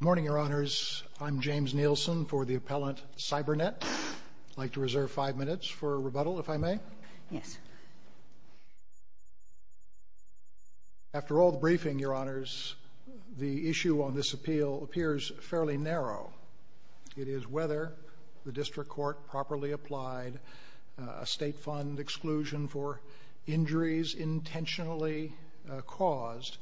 Morning, Your Honors. I'm James Nielsen for the appellant Cybernet. I'd like to reserve five minutes for rebuttal, if I may. Yes. After all the briefing, Your Honors, the issue on this appeal appears fairly narrow. It is whether the district court properly applied a State Fund exclusion for injuries intentionally caused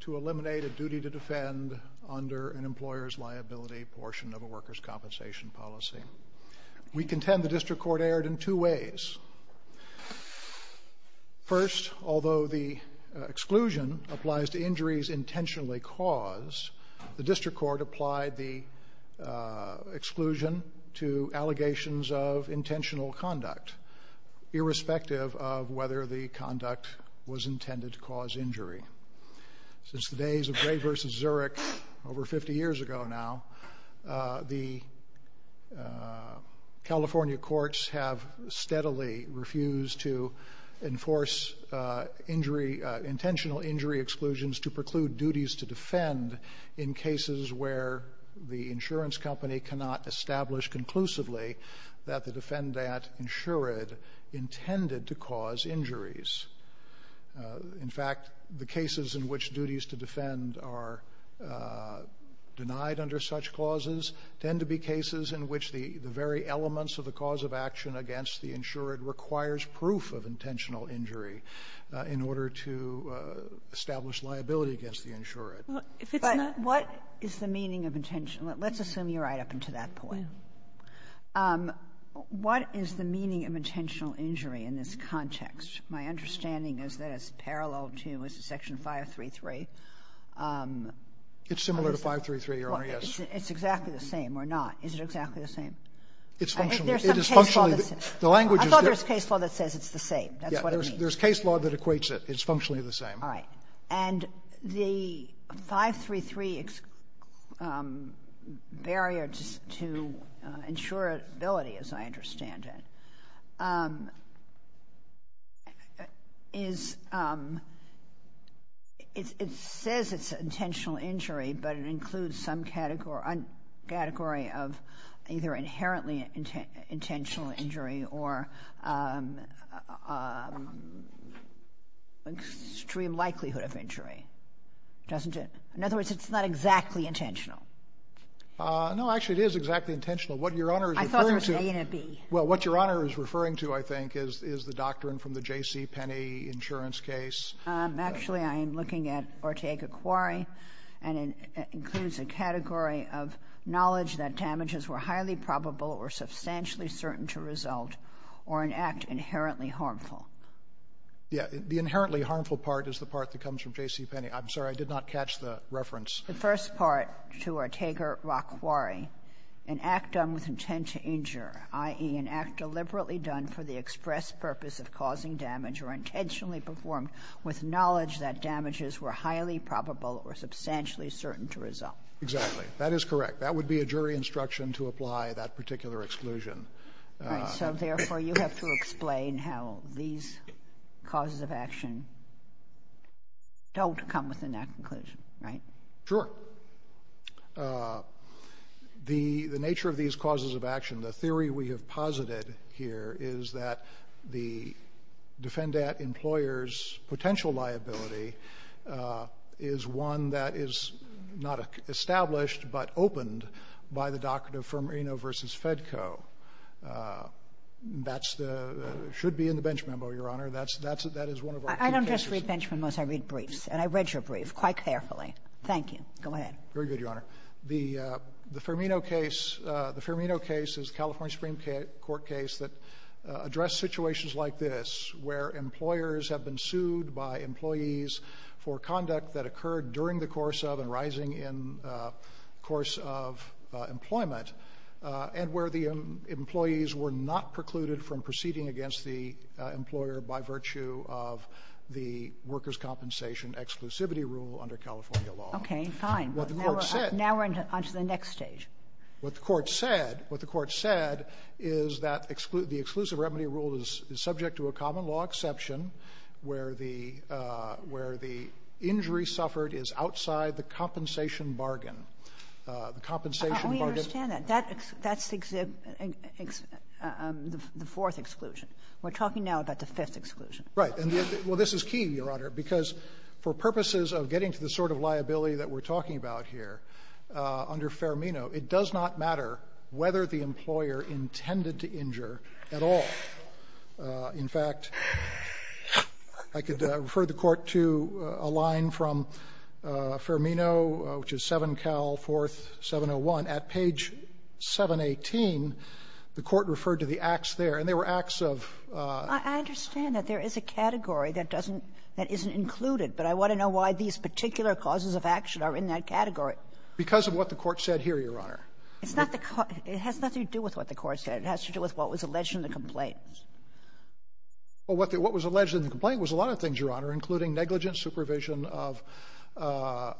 to eliminate a duty to defend under an employer's liability portion of a workers' compensation policy. We contend the district court erred in two ways. First, although the exclusion applies to injuries intentionally caused, the district court applied the exclusion to allegations of intentional conduct, irrespective of whether the conduct was intended to cause injury. Since the days of Gray v. Zurich, over 50 years ago now, the California courts have steadily refused to enforce intentional injury exclusions to preclude duties to defend in cases where the insurance company cannot establish conclusively that the defendant insured intended to cause injuries. In fact, the cases in which duties to defend are denied under such clauses tend to be cases in which the very elements of the cause of action against the insured requires proof of intentional injury in order to establish liability against the insured. Kagan. But what is the meaning of intentional? Let's assume you're right up until that point. What is the meaning of intentional injury in this context? My understanding is that it's parallel to, is it Section 533? It's similar to 533, Your Honor, yes. It's exactly the same, or not. Is it exactly the same? It's functionally. There's some case law that says it's the same. I thought there was case law that says it's the same. That's what it means. There's case law that equates it. It's functionally the same. All right. And the 533 barrier to insurability, as I understand it, is – it says it's an intentional injury, but it includes some category of either inherently intentional injury or extreme likelihood of injury, doesn't it? In other words, it's not exactly intentional. No, actually, it is exactly intentional. What Your Honor is referring to – I thought there was A and a B. Well, what Your Honor is referring to, I think, is the doctrine from the J.C. Penney insurance case. Actually, I am looking at Ortega-Quarry, and it includes a category of knowledge that damages were highly probable or substantially certain to result or an act inherently harmful. Yes. The inherently harmful part is the part that comes from J.C. Penney. I'm sorry. I did not catch the reference. The first part to Ortega-Quarry, an act done with intent to injure, i.e., an act deliberately done for the express purpose of causing damage or intentionally performed with knowledge that damages were highly probable or substantially certain to result. Exactly. That is correct. That would be a jury instruction to apply that particular exclusion. All right. So, therefore, you have to explain how these causes of action don't come within that conclusion, right? Sure. The nature of these causes of action, the theory we have posited here is that the by the doctrine of Firmino v. Fedco. That's the — should be in the bench memo, Your Honor. That's — that is one of our brief cases. I don't just read bench memos. I read briefs. And I read your brief quite carefully. Thank you. Go ahead. Very good, Your Honor. The Firmino case — the Firmino case is a California Supreme Court case that addressed situations like this, where employers have been sued by employees for conduct that occurred during the course of and rising in the course of employment, and where the employees were not precluded from proceeding against the employer by virtue of the workers' compensation exclusivity rule under California law. Okay. Fine. Now we're on to the next stage. What the Court said — what the Court said is that the exclusive remedy rule is subject to a common-law exception where the — where the injury suffered is outside the compensation bargain. The compensation bargain — I only understand that. That — that's the — the fourth exclusion. We're talking now about the fifth exclusion. Right. And the — well, this is key, Your Honor, because for purposes of getting to the sort of liability that we're talking about here under Firmino, it does not matter whether the employer intended to injure at all. In fact, I could refer the Court to a line from Firmino, which is 7Cal 4701. At page 718, the Court referred to the acts there, and they were acts of — I understand that there is a category that doesn't — that isn't included, but I want to know why these particular causes of action are in that category. Because of what the Court said here, Your Honor. It's not the — it has nothing to do with what the Court said. It has to do with what was alleged in the complaint. Well, what the — what was alleged in the complaint was a lot of things, Your Honor, including negligent supervision of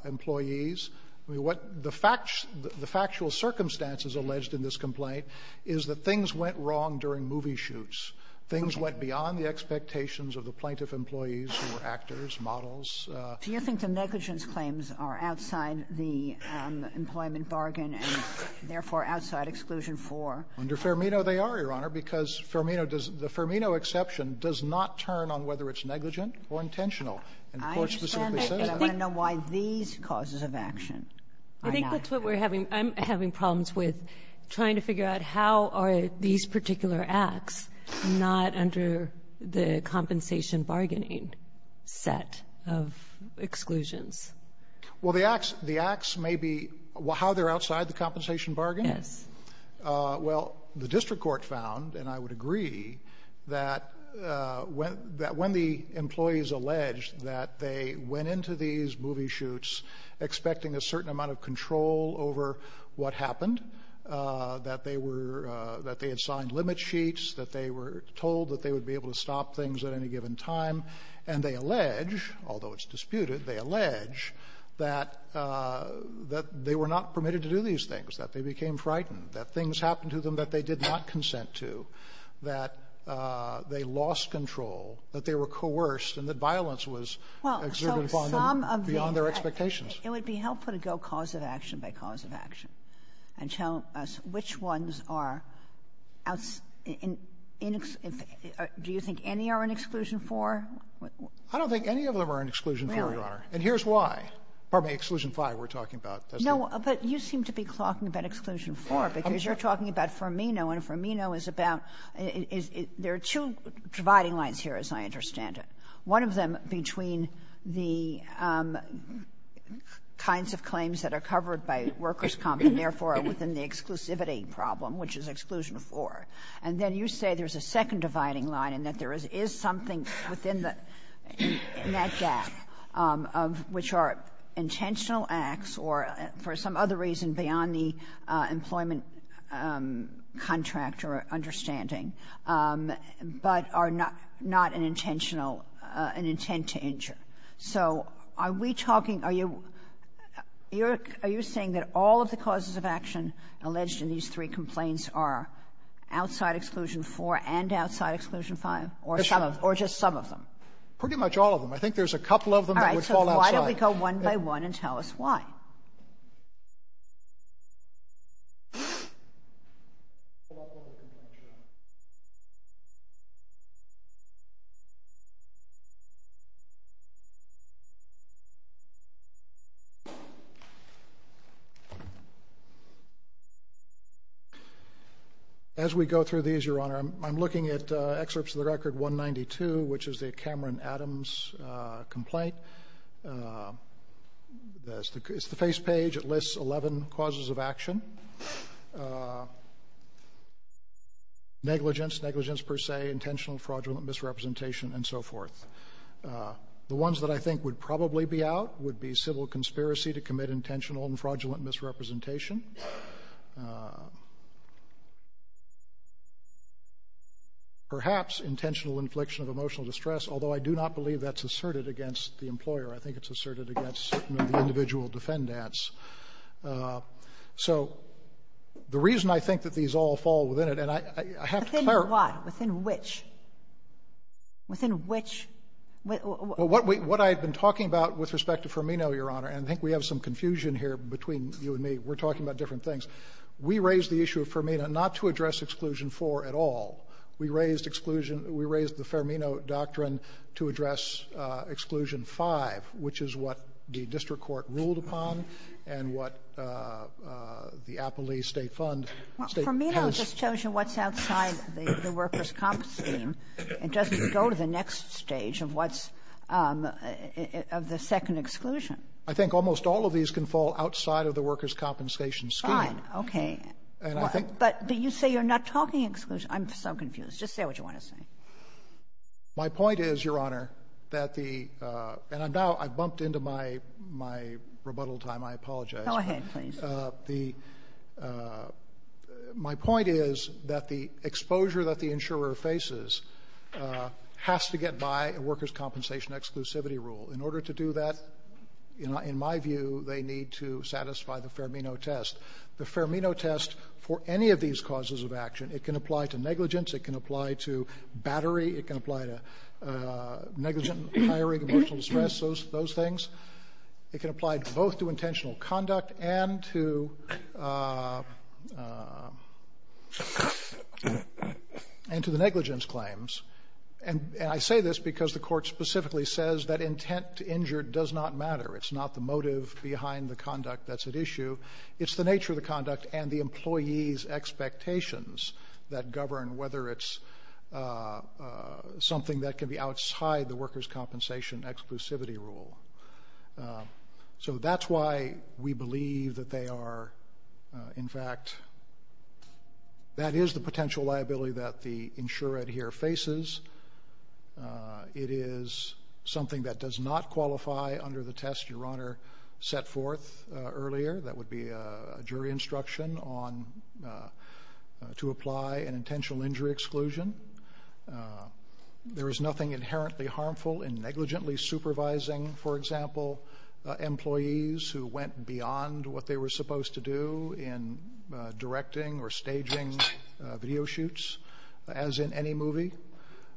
employees. I mean, what the facts — the factual circumstances alleged in this complaint is that things went wrong during movie shoots. Okay. Things went beyond the expectations of the plaintiff employees who were actors, models. Do you think the negligence claims are outside the employment bargain and, therefore, outside Exclusion 4? Under Firmino, they are, Your Honor, because Firmino does — the Firmino exception does not turn on whether it's negligent or intentional. And the Court specifically says that. I understand that, but I want to know why these causes of action are not. I think that's what we're having — I'm having problems with trying to figure out how are these particular acts not under the compensation bargaining set of exclusions. Well, the acts — the acts may be — how they're outside the compensation bargain? Yes. Well, the district court found, and I would agree, that when — that when the employees alleged that they went into these movie shoots expecting a certain amount of control over what happened, that they were — that they had signed limit sheets, that they were told that they would be able to stop things at any given time, and they allege, although it's disputed, they allege that — that they were not permitted to do these things, that they became frightened, that things happened to them that they did not consent to, that they lost control, that they were coerced, and that violence was exerted upon them beyond their expectations. Well, so some of the — it would be helpful to go cause of action by cause of action and tell us which ones are — do you think any are in Exclusion 4? I don't think any of them are in Exclusion 4, Your Honor, and here's why. Exclusion 5 we're talking about. No, but you seem to be talking about Exclusion 4, because you're talking about Fermino. And Fermino is about — there are two dividing lines here, as I understand it. One of them between the kinds of claims that are covered by workers' comp, and therefore are within the exclusivity problem, which is Exclusion 4. And then you say there's a second dividing line, and that there is something within the — in that gap of — which are intentional acts or, for some other reason, beyond the employment contract or understanding, but are not — not an intentional — an intent to injure. So are we talking — are you — are you saying that all of the causes of action alleged in these three complaints are outside Exclusion 4 and outside Exclusion 5? Yes, Your Honor. Or just some of them? Pretty much all of them. I think there's a couple of them that would fall outside. All right. So why don't we go one by one and tell us why? As we go through these, Your Honor, I'm looking at excerpts of the record 192, which is the Cameron Adams complaint. It's the face page. It lists 11 causes of action. Negligence, negligence per se, intentional, fraudulent misrepresentation, and so forth. The ones that I think would probably be out would be civil conspiracy to commit intentional and fraudulent misrepresentation, perhaps intentional infliction of emotional distress, although I do not believe that's asserted against the employer. I think it's asserted against the individual defendants. So the reason I think that these all fall within it, and I have to clarify — Within what? Within which? Within which — Well, what I've been talking about with respect to Fermino, Your Honor, and I think we have some confusion here between you and me. We're talking about different things. We raised the issue of Fermino not to address Exclusion 4 at all. We raised Exclusion — we raised the Fermino doctrine to address Exclusion 5, which is what the district court ruled upon and what the Applee State Fund — Fermino just tells you what's outside the workers' comp scheme. It doesn't go to the next stage of what's — of the second exclusion. I think almost all of these can fall outside of the workers' compensation scheme. Fine. Okay. And I think — But you say you're not talking exclusion. I'm so confused. Just say what you want to say. My point is, Your Honor, that the — and I'm now — I've bumped into my — my rebuttal time. I apologize. Go ahead, please. The — my point is that the exposure that the insurer faces has to get by a workers' compensation exclusivity rule. In order to do that, in my view, they need to satisfy the Fermino test. The Fermino test for any of these causes of action, it can apply to negligence. It can apply to battery. It can apply to negligent hiring, emotional distress, those — those things. It can apply both to intentional conduct and to — and to the negligence claims. And I say this because the Court specifically says that intent to injure does not matter. It's not the motive behind the conduct that's at issue. It's the nature of the conduct and the employee's expectations that govern whether it's something that can be outside the workers' compensation exclusivity rule. So that's why we believe that they are, in fact — that is the potential liability that the insurer here faces. It is something that does not qualify under the test Your Honor set forth earlier that would be a jury instruction on — to apply an intentional injury exclusion. There is nothing inherently harmful in negligently supervising, for example, employees who went beyond what they were supposed to do in directing or staging video shoots, as in any movie.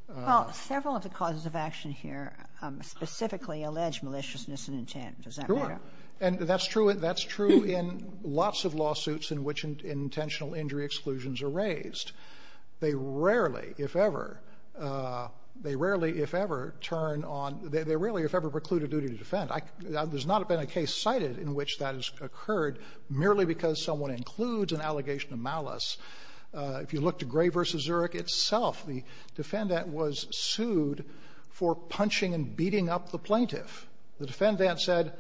Well, several of the causes of action here specifically allege maliciousness and intent. Does that matter? Sure. And that's true — that's true in lots of lawsuits in which intentional injury exclusions are raised. They rarely, if ever — they rarely, if ever, turn on — they rarely, if ever, preclude a duty to defend. There's not been a case cited in which that has occurred merely because someone includes an allegation of malice. If you look to Gray v. Zurich itself, the defendant was sued for punching and beating up the plaintiff. The defendant said,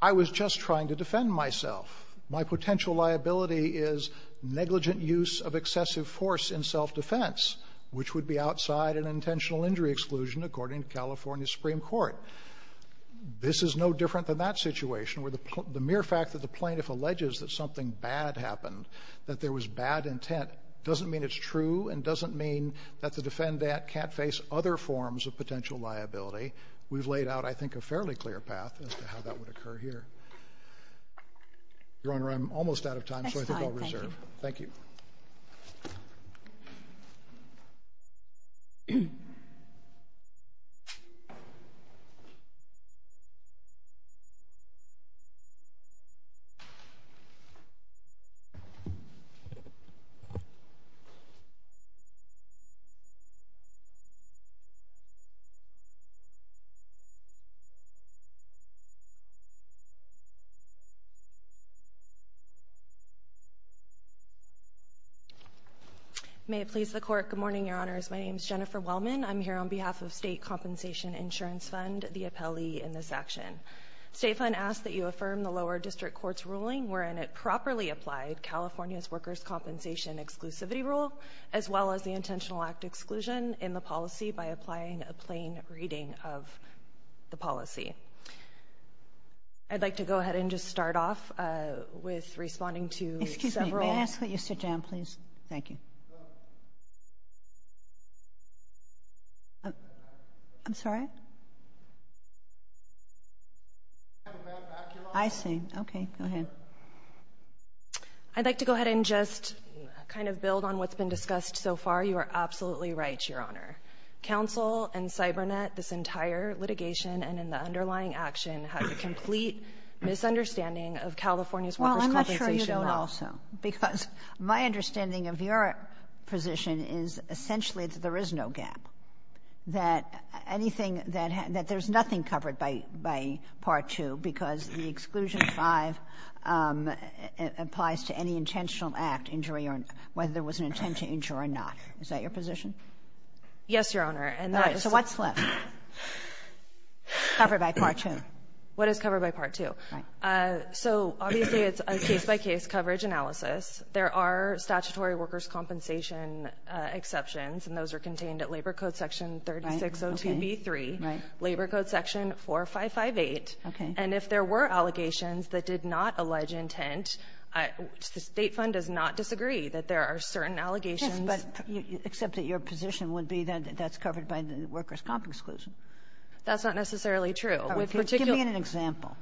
I was just trying to defend myself. My potential liability is negligent use of excessive force in self-defense, which would be outside an intentional injury exclusion, according to California Supreme Court. This is no different than that situation where the mere fact that the plaintiff alleges that something bad happened, that there was bad intent, doesn't mean it's true and doesn't mean that the defendant can't face other forms of potential liability. We've laid out, I think, a fairly clear path as to how that would occur here. Your Honor, I'm almost out of time, so I think I'll reserve. Thank you. May it please the Court, good morning, Your Honors. My name is Jennifer Wellman. I'm here on behalf of State Compensation Insurance Fund, the appellee in this action. State Fund asks that you affirm the lower district court's ruling wherein it properly applied California's workers' compensation exclusivity rule, as well as the intentional act exclusion in the policy by applying a plain reading of the policy. I'd like to go ahead and just start off with responding to several... Excuse me, may I ask that you sit down, please? Thank you. I'm sorry? I see. Okay, go ahead. I'd like to go ahead and just kind of build on what's been discussed so far. You are absolutely right, Your Honor. Counsel and CyberNet, this entire litigation and in the underlying action, has a complete misunderstanding of California's workers' compensation law. Well, I'm not sure you don't also, because my understanding of your position is essentially that there is no gap, that anything that has — that there's nothing covered by Part 2 because the Exclusion 5 applies to any intentional act injury or whether there was an intentional injury or not. Is that your position? Yes, Your Honor. And that is... So what's left covered by Part 2? What is covered by Part 2? Right. So obviously, it's a case-by-case coverage analysis. There are statutory workers' compensation exceptions, and those are contained at Labor Code section 3602b3, Labor Code section 4558. Okay. And if there were allegations that did not allege intent, the State Fund does not disagree that there are certain allegations. Yes, but except that your position would be that that's covered by the workers' comp exclusion. That's not necessarily true. Give me an example.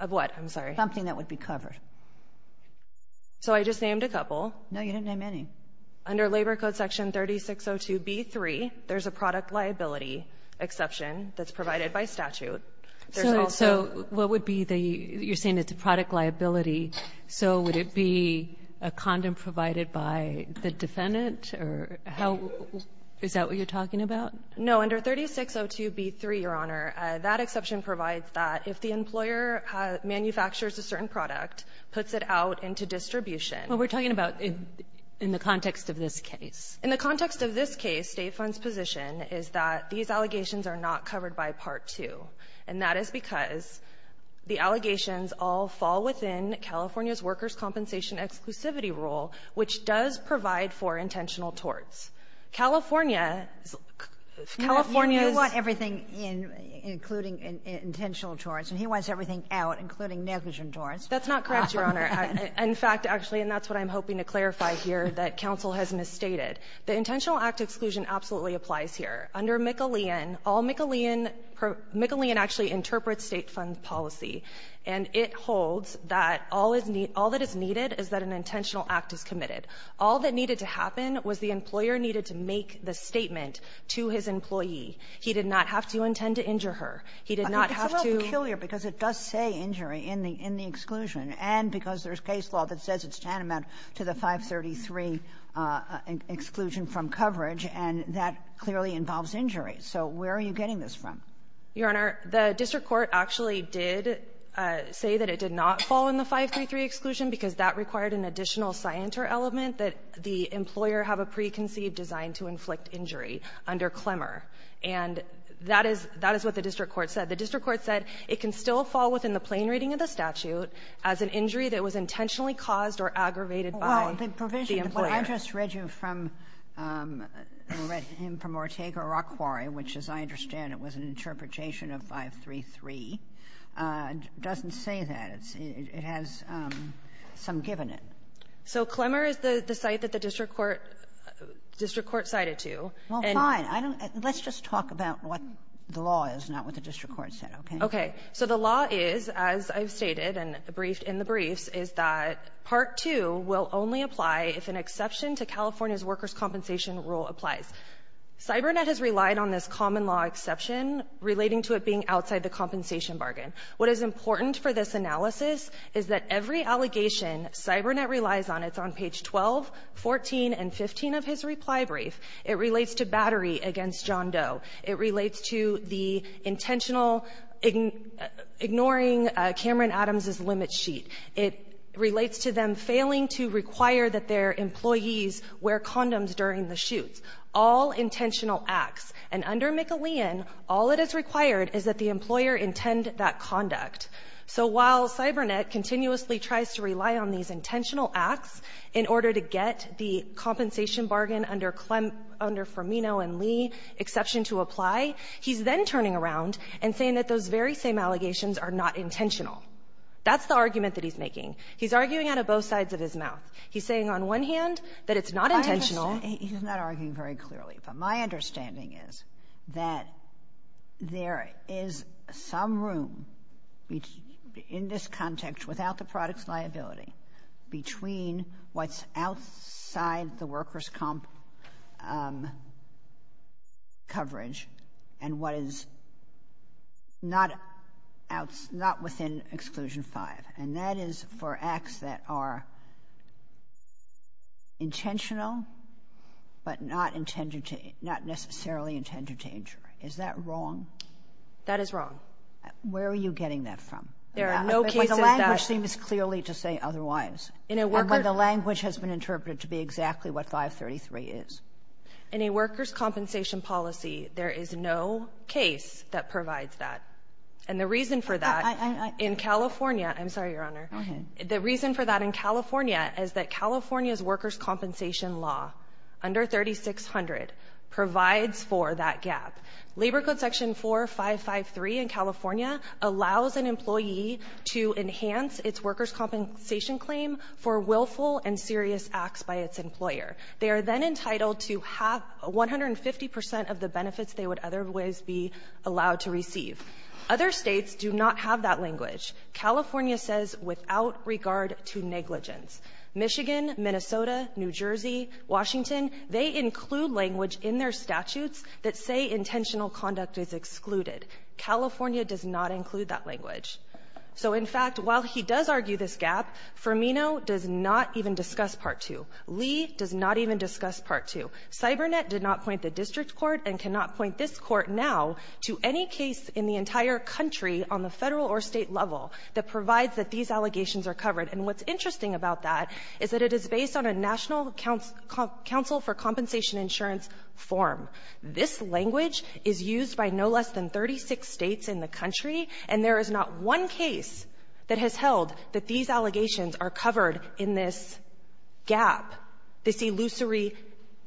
Of what? I'm sorry. Something that would be covered. So I just named a couple. No, you didn't name any. Under Labor Code section 3602b3, there's a product liability exception that's provided by statute. There's also... So what would be the — you're saying it's a product liability. So would it be a condom provided by the defendant, or how — is that what you're talking about? No. Under 3602b3, Your Honor, that exception provides that if the employer manufactures a certain product, puts it out into distribution. Well, we're talking about in the context of this case. In the context of this case, State Fund's position is that these allegations are not covered by Part 2. And that is because the allegations all fall within California's workers' compensation exclusivity rule, which does provide for intentional torts. California's — California's... You want everything in — including intentional torts, and he wants everything out, including negligent torts. That's not correct, Your Honor. In fact, actually, and that's what I'm hoping to clarify here, that counsel has misstated. The intentional act exclusion absolutely applies here. Under McAlean, all McAlean — McAlean actually interprets State Fund's policy. And it holds that all is — all that is needed is that an intentional act is committed. All that needed to happen was the employer needed to make the statement to his employee. He did not have to intend to injure her. He did not have to... But it's a little peculiar because it does say injury in the — in the exclusion. And because there's case law that says it's tantamount to the 533 exclusion from coverage, and that clearly involves injury. So where are you getting this from? Your Honor, the district court actually did say that it did not fall in the 533 exclusion because that required an additional scienter element that the employer have a preconceived design to inflict injury under Clemmer. And that is — that is what the district court said. The district court said it can still fall within the plain reading of the statute as an injury that was intentionally caused or aggravated by the employer. But what I just read you from — I read him from Ortega-Rock quarry, which, as I understand it, was an interpretation of 533, doesn't say that. It has some given in. So Clemmer is the — the site that the district court — district court cited to. Well, fine. I don't — let's just talk about what the law is, not what the district court said, okay? Okay. So the law is, as I've stated and briefed in the briefs, is that Part 2 will only apply if an exception to California's workers' compensation rule applies. CyberNet has relied on this common-law exception relating to it being outside the compensation bargain. What is important for this analysis is that every allegation CyberNet relies on, it's on page 12, 14, and 15 of his reply brief. It relates to battery against John Doe. It relates to the intentional ignoring Cameron Adams's limit sheet. It relates to them failing to require that their employees wear condoms during the shoots. All intentional acts. And under McAlean, all that is required is that the employer intend that conduct. So while CyberNet continuously tries to rely on these intentional acts in order to get the compensation bargain under Clem — under Fermino and Lee exception to apply, he's then turning around and saying that those very same allegations are not intentional. That's the argument that he's making. He's arguing out of both sides of his mouth. He's saying on one hand that it's not intentional — He's not arguing very clearly. But my understanding is that there is some room in this context, without the product's liability, between what's outside the workers' comp — coverage and what is not out — not within Exclusion 5. And that is for acts that are intentional, but not intended to — not necessarily intended to injure. Is that wrong? That is wrong. Where are you getting that from? There are no cases that — The language seems clearly to say otherwise. In a worker — When the language has been interpreted to be exactly what 533 is. In a workers' compensation policy, there is no case that provides that. And the reason for that in California — I'm sorry, Your Honor. Go ahead. The reason for that in California is that California's workers' compensation law under 3600 provides for that gap. Labor Code section 4553 in California allows an employee to enhance its workers' compensation claim for willful and serious acts by its employer. They are then entitled to have 150 percent of the benefits they would otherwise be allowed to receive. Other States do not have that language. California says without regard to negligence. Michigan, Minnesota, New Jersey, Washington, they include language in their statutes that say intentional conduct is excluded. California does not include that language. So, in fact, while he does argue this gap, Firmino does not even discuss Part 2. Lee does not even discuss Part 2. CyberNet did not point the district court and cannot point this court now to any case in the entire country on the Federal or State level that provides that these allegations are covered. And what's interesting about that is that it is based on a National Council for Compensation Insurance form. This language is used by no less than 36 States in the country, and there is not one case that has held that these allegations are covered in this gap, this illusory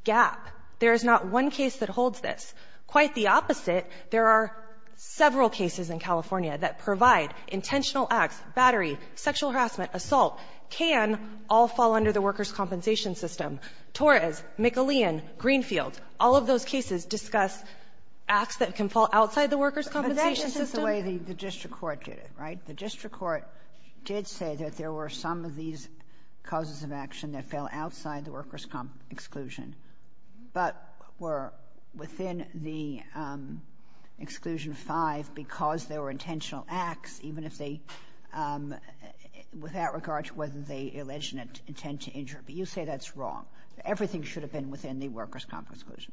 gap. There is not one case that holds this. Quite the opposite, there are several cases in California that provide intentional acts, battery, sexual harassment, assault, can all fall under the workers' compensation system. Torres, McAleon, Greenfield, all of those cases discuss acts that can fall outside the workers' compensation system. The way the district court did it, right? The district court did say that there were some of these causes of action that fell outside the workers' exclusion, but were within the Exclusion V because there were intentional acts, even if they — with that regard, whether they alleged an intent to injure. But you say that's wrong. Everything should have been within the workers' comp exclusion.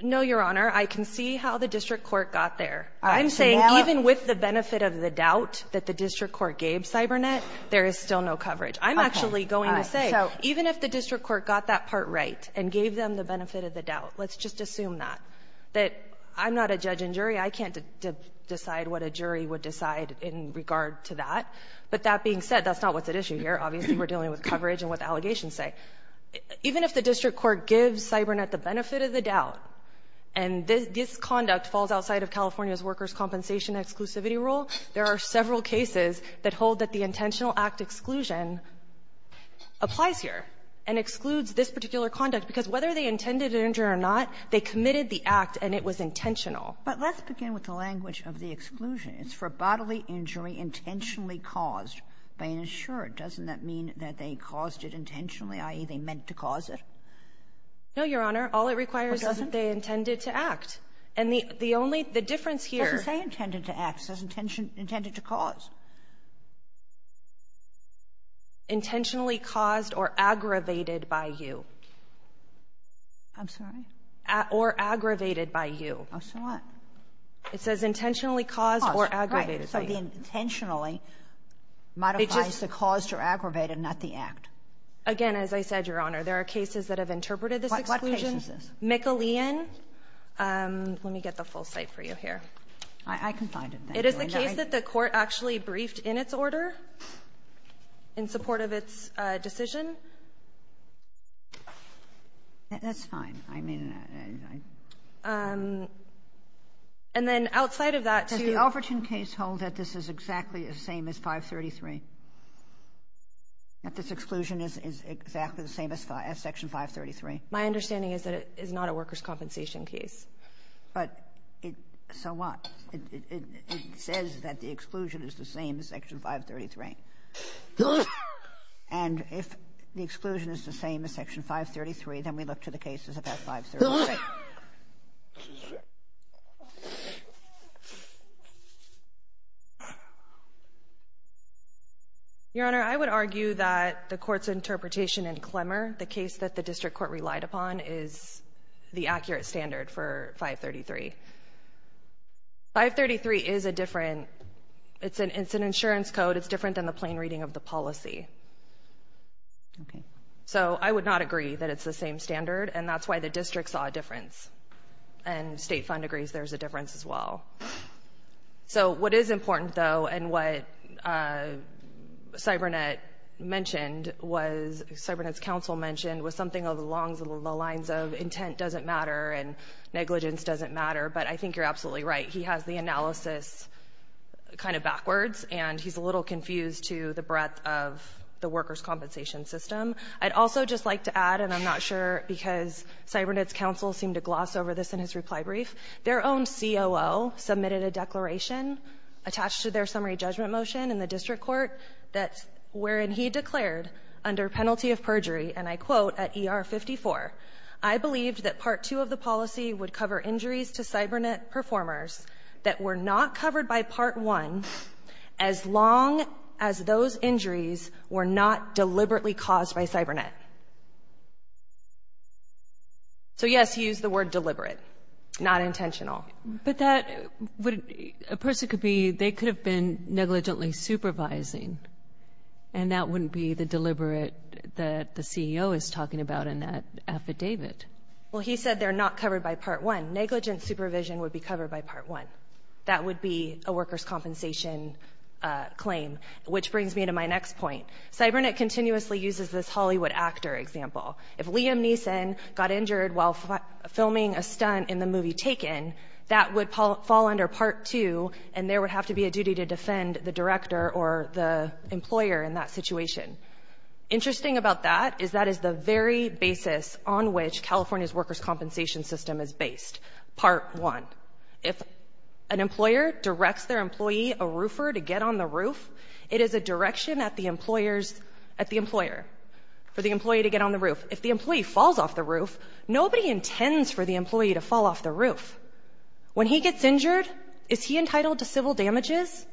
No, Your Honor. I can see how the district court got there. I'm saying even with the benefit of the doubt that the district court gave CyberNet, there is still no coverage. I'm actually going to say, even if the district court got that part right and gave them the benefit of the doubt, let's just assume that, that I'm not a judge and jury. I can't decide what a jury would decide in regard to that. But that being said, that's not what's at issue here. Obviously, we're dealing with coverage and what the allegations say. Even if the district court gives CyberNet the benefit of the doubt, and this conduct falls outside of California's workers' compensation exclusivity rule, there are several cases that hold that the intentional act exclusion applies here and excludes this particular conduct, because whether they intended an injury or not, they committed the act, and it was intentional. But let's begin with the language of the exclusion. It's for bodily injury intentionally caused by an insurer. Doesn't that mean that they caused it intentionally, i.e., they meant to cause it? No, Your Honor. All it requires is that they intended to act. And the only the difference here — It doesn't say intended to act. It says intended to cause. Intentionally caused or aggravated by you. I'm sorry? Or aggravated by you. Oh, so what? It says intentionally caused or aggravated by you. Oh, right. So the intentionally modifies the caused or aggravated, not the act. Again, as I said, Your Honor, there are cases that have interpreted this exclusion. What cases is this? McAlean. Let me get the full cite for you here. I can find it. It is the case that the Court actually briefed in its order in support of its decision. That's fine. I mean, I — And then outside of that, too — Does the Alverton case hold that this is exactly the same as 533, that this exclusion is exactly the same as Section 533? My understanding is that it is not a workers' compensation case. But it — so what? It says that the exclusion is the same as Section 533. And if the exclusion is the same as Section 533, then we look to the cases of that 533. Your Honor, I would argue that the Court's interpretation in Clemmer, the case that the district court relied upon, is the accurate standard for 533. 533 is a different — it's an insurance code. It's different than the plain reading of the policy. So I would not agree that it's the same standard. And that's why the district saw a difference. And State Fund agrees there's a difference as well. So what is important, though, and what CyberNet mentioned was — CyberNet's counsel mentioned was something along the lines of intent doesn't matter and negligence doesn't matter. But I think you're absolutely right. He has the analysis kind of backwards, and he's a little confused to the breadth of the workers' compensation system. I'd also just like to add, and I'm not sure because CyberNet's counsel seemed to gloss over this in his reply brief, their own COO submitted a declaration attached to their summary judgment motion in the district court that — wherein he declared, under penalty of perjury, and I quote, at ER 54, I believed that Part 2 of the policy would cover injuries to CyberNet performers that were not covered by Part 1 as long as those injuries were not deliberately caused by CyberNet. So, yes, he used the word deliberate, not intentional. But that would — a person could be — they could have been negligently supervising. And that wouldn't be the deliberate that the CEO is talking about in that affidavit. Well, he said they're not covered by Part 1. Negligent supervision would be covered by Part 1. That would be a workers' compensation claim, which brings me to my next point. CyberNet continuously uses this Hollywood actor example. If Liam Neeson got injured while filming a stunt in the movie Taken, that would fall under Part 2, and there would have to be a duty to defend the director or the employer in that situation. Interesting about that is that is the very basis on which California's workers' compensation system is based. Part 1. If an employer directs their employee, a roofer, to get on the roof, it is a direction at the employer's — at the employer, for the employee to get on the roof. If the employee falls off the roof, nobody intends for the employee to fall off the roof. When he gets injured, is he entitled to civil damages?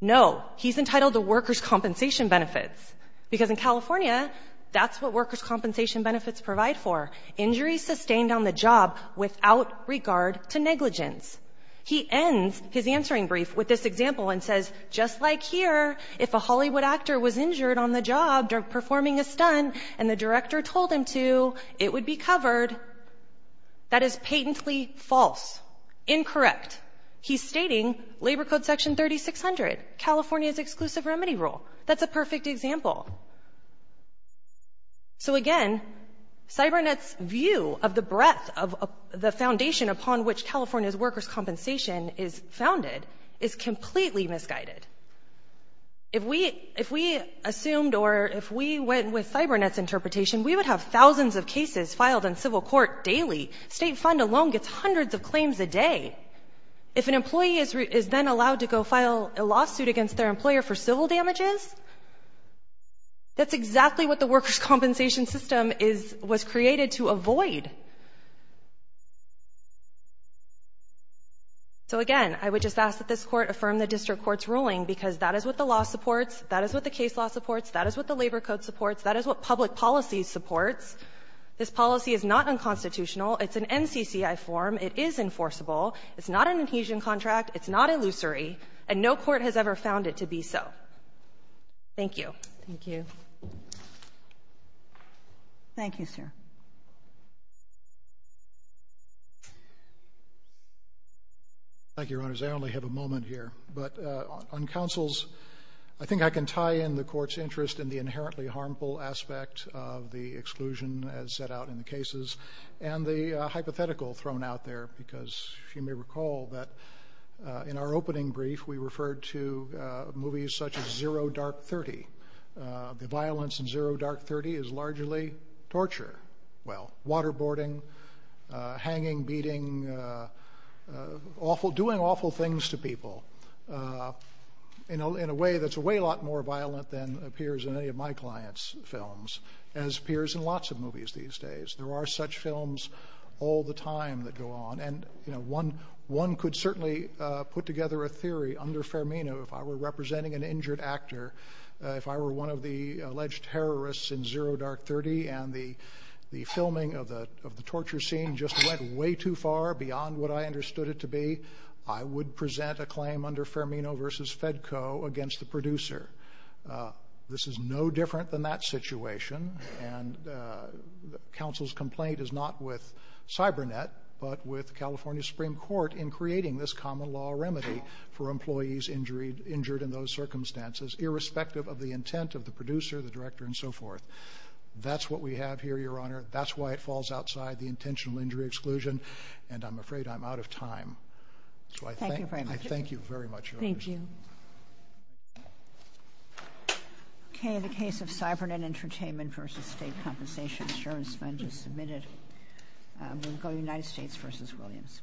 No. He's entitled to workers' compensation benefits, because in California, that's what workers' compensation benefits provide for — injuries sustained on the job without regard to negligence. He ends his answering brief with this example and says, just like here, if a Hollywood actor was injured on the job performing a stunt and the director told him to, it would be blatantly false, incorrect. He's stating Labor Code Section 3600, California's exclusive remedy rule. That's a perfect example. So, again, CyberNet's view of the breadth of the foundation upon which California's workers' compensation is founded is completely misguided. If we — if we assumed or if we went with CyberNet's interpretation, we would have thousands of cases filed in civil court daily. State fund alone gets hundreds of claims a day. If an employee is then allowed to go file a lawsuit against their employer for civil damages, that's exactly what the workers' compensation system is — was created to avoid. So, again, I would just ask that this Court affirm the district court's ruling, because that is what the law supports, that is what the case law supports, that is what the Labor Code supports, that is what public policy supports. This policy is not unconstitutional. It's an NCCI form. It is enforceable. It's not an adhesion contract. It's not illusory. And no court has ever found it to be so. Thank you. Thank you. Thank you, sir. Thank you, Your Honors. I only have a moment here. But on counsel's — I think I can tie in the Court's interest in the inherently harmful aspect of the exclusion as set out in the cases and the hypothetical thrown out there, because you may recall that in our opening brief, we referred to movies such as Zero Dark Thirty. The violence in Zero Dark Thirty is largely torture. Well, waterboarding, hanging, beating, awful — doing awful things to people in a way that's a way lot more violent than appears in any of my clients' films, as appears in lots of movies these days. There are such films all the time that go on. And, you know, one could certainly put together a theory under Fermino. If I were representing an injured actor, if I were one of the alleged terrorists in Zero Dark Thirty and the filming of the torture scene just went way too far beyond what I understood it to be, I would present a claim under Fermino v. Fedco against the producer. This is no different than that situation, and counsel's complaint is not with CyberNet but with California Supreme Court in creating this common law remedy for employees injured in those circumstances, irrespective of the intent of the producer, the director, and so forth. That's what we have here, Your Honor. That's why it falls outside the intentional injury exclusion, and I'm afraid I'm out So I thank you very much. Thank you. Thank you. Thank you. Thank you. Thank you. Thank you. Thank you. Okay, the case of CyberNet Entertainment v. State Compensation. Sherman Spenge is submitted. We'll go to United States v. Williams.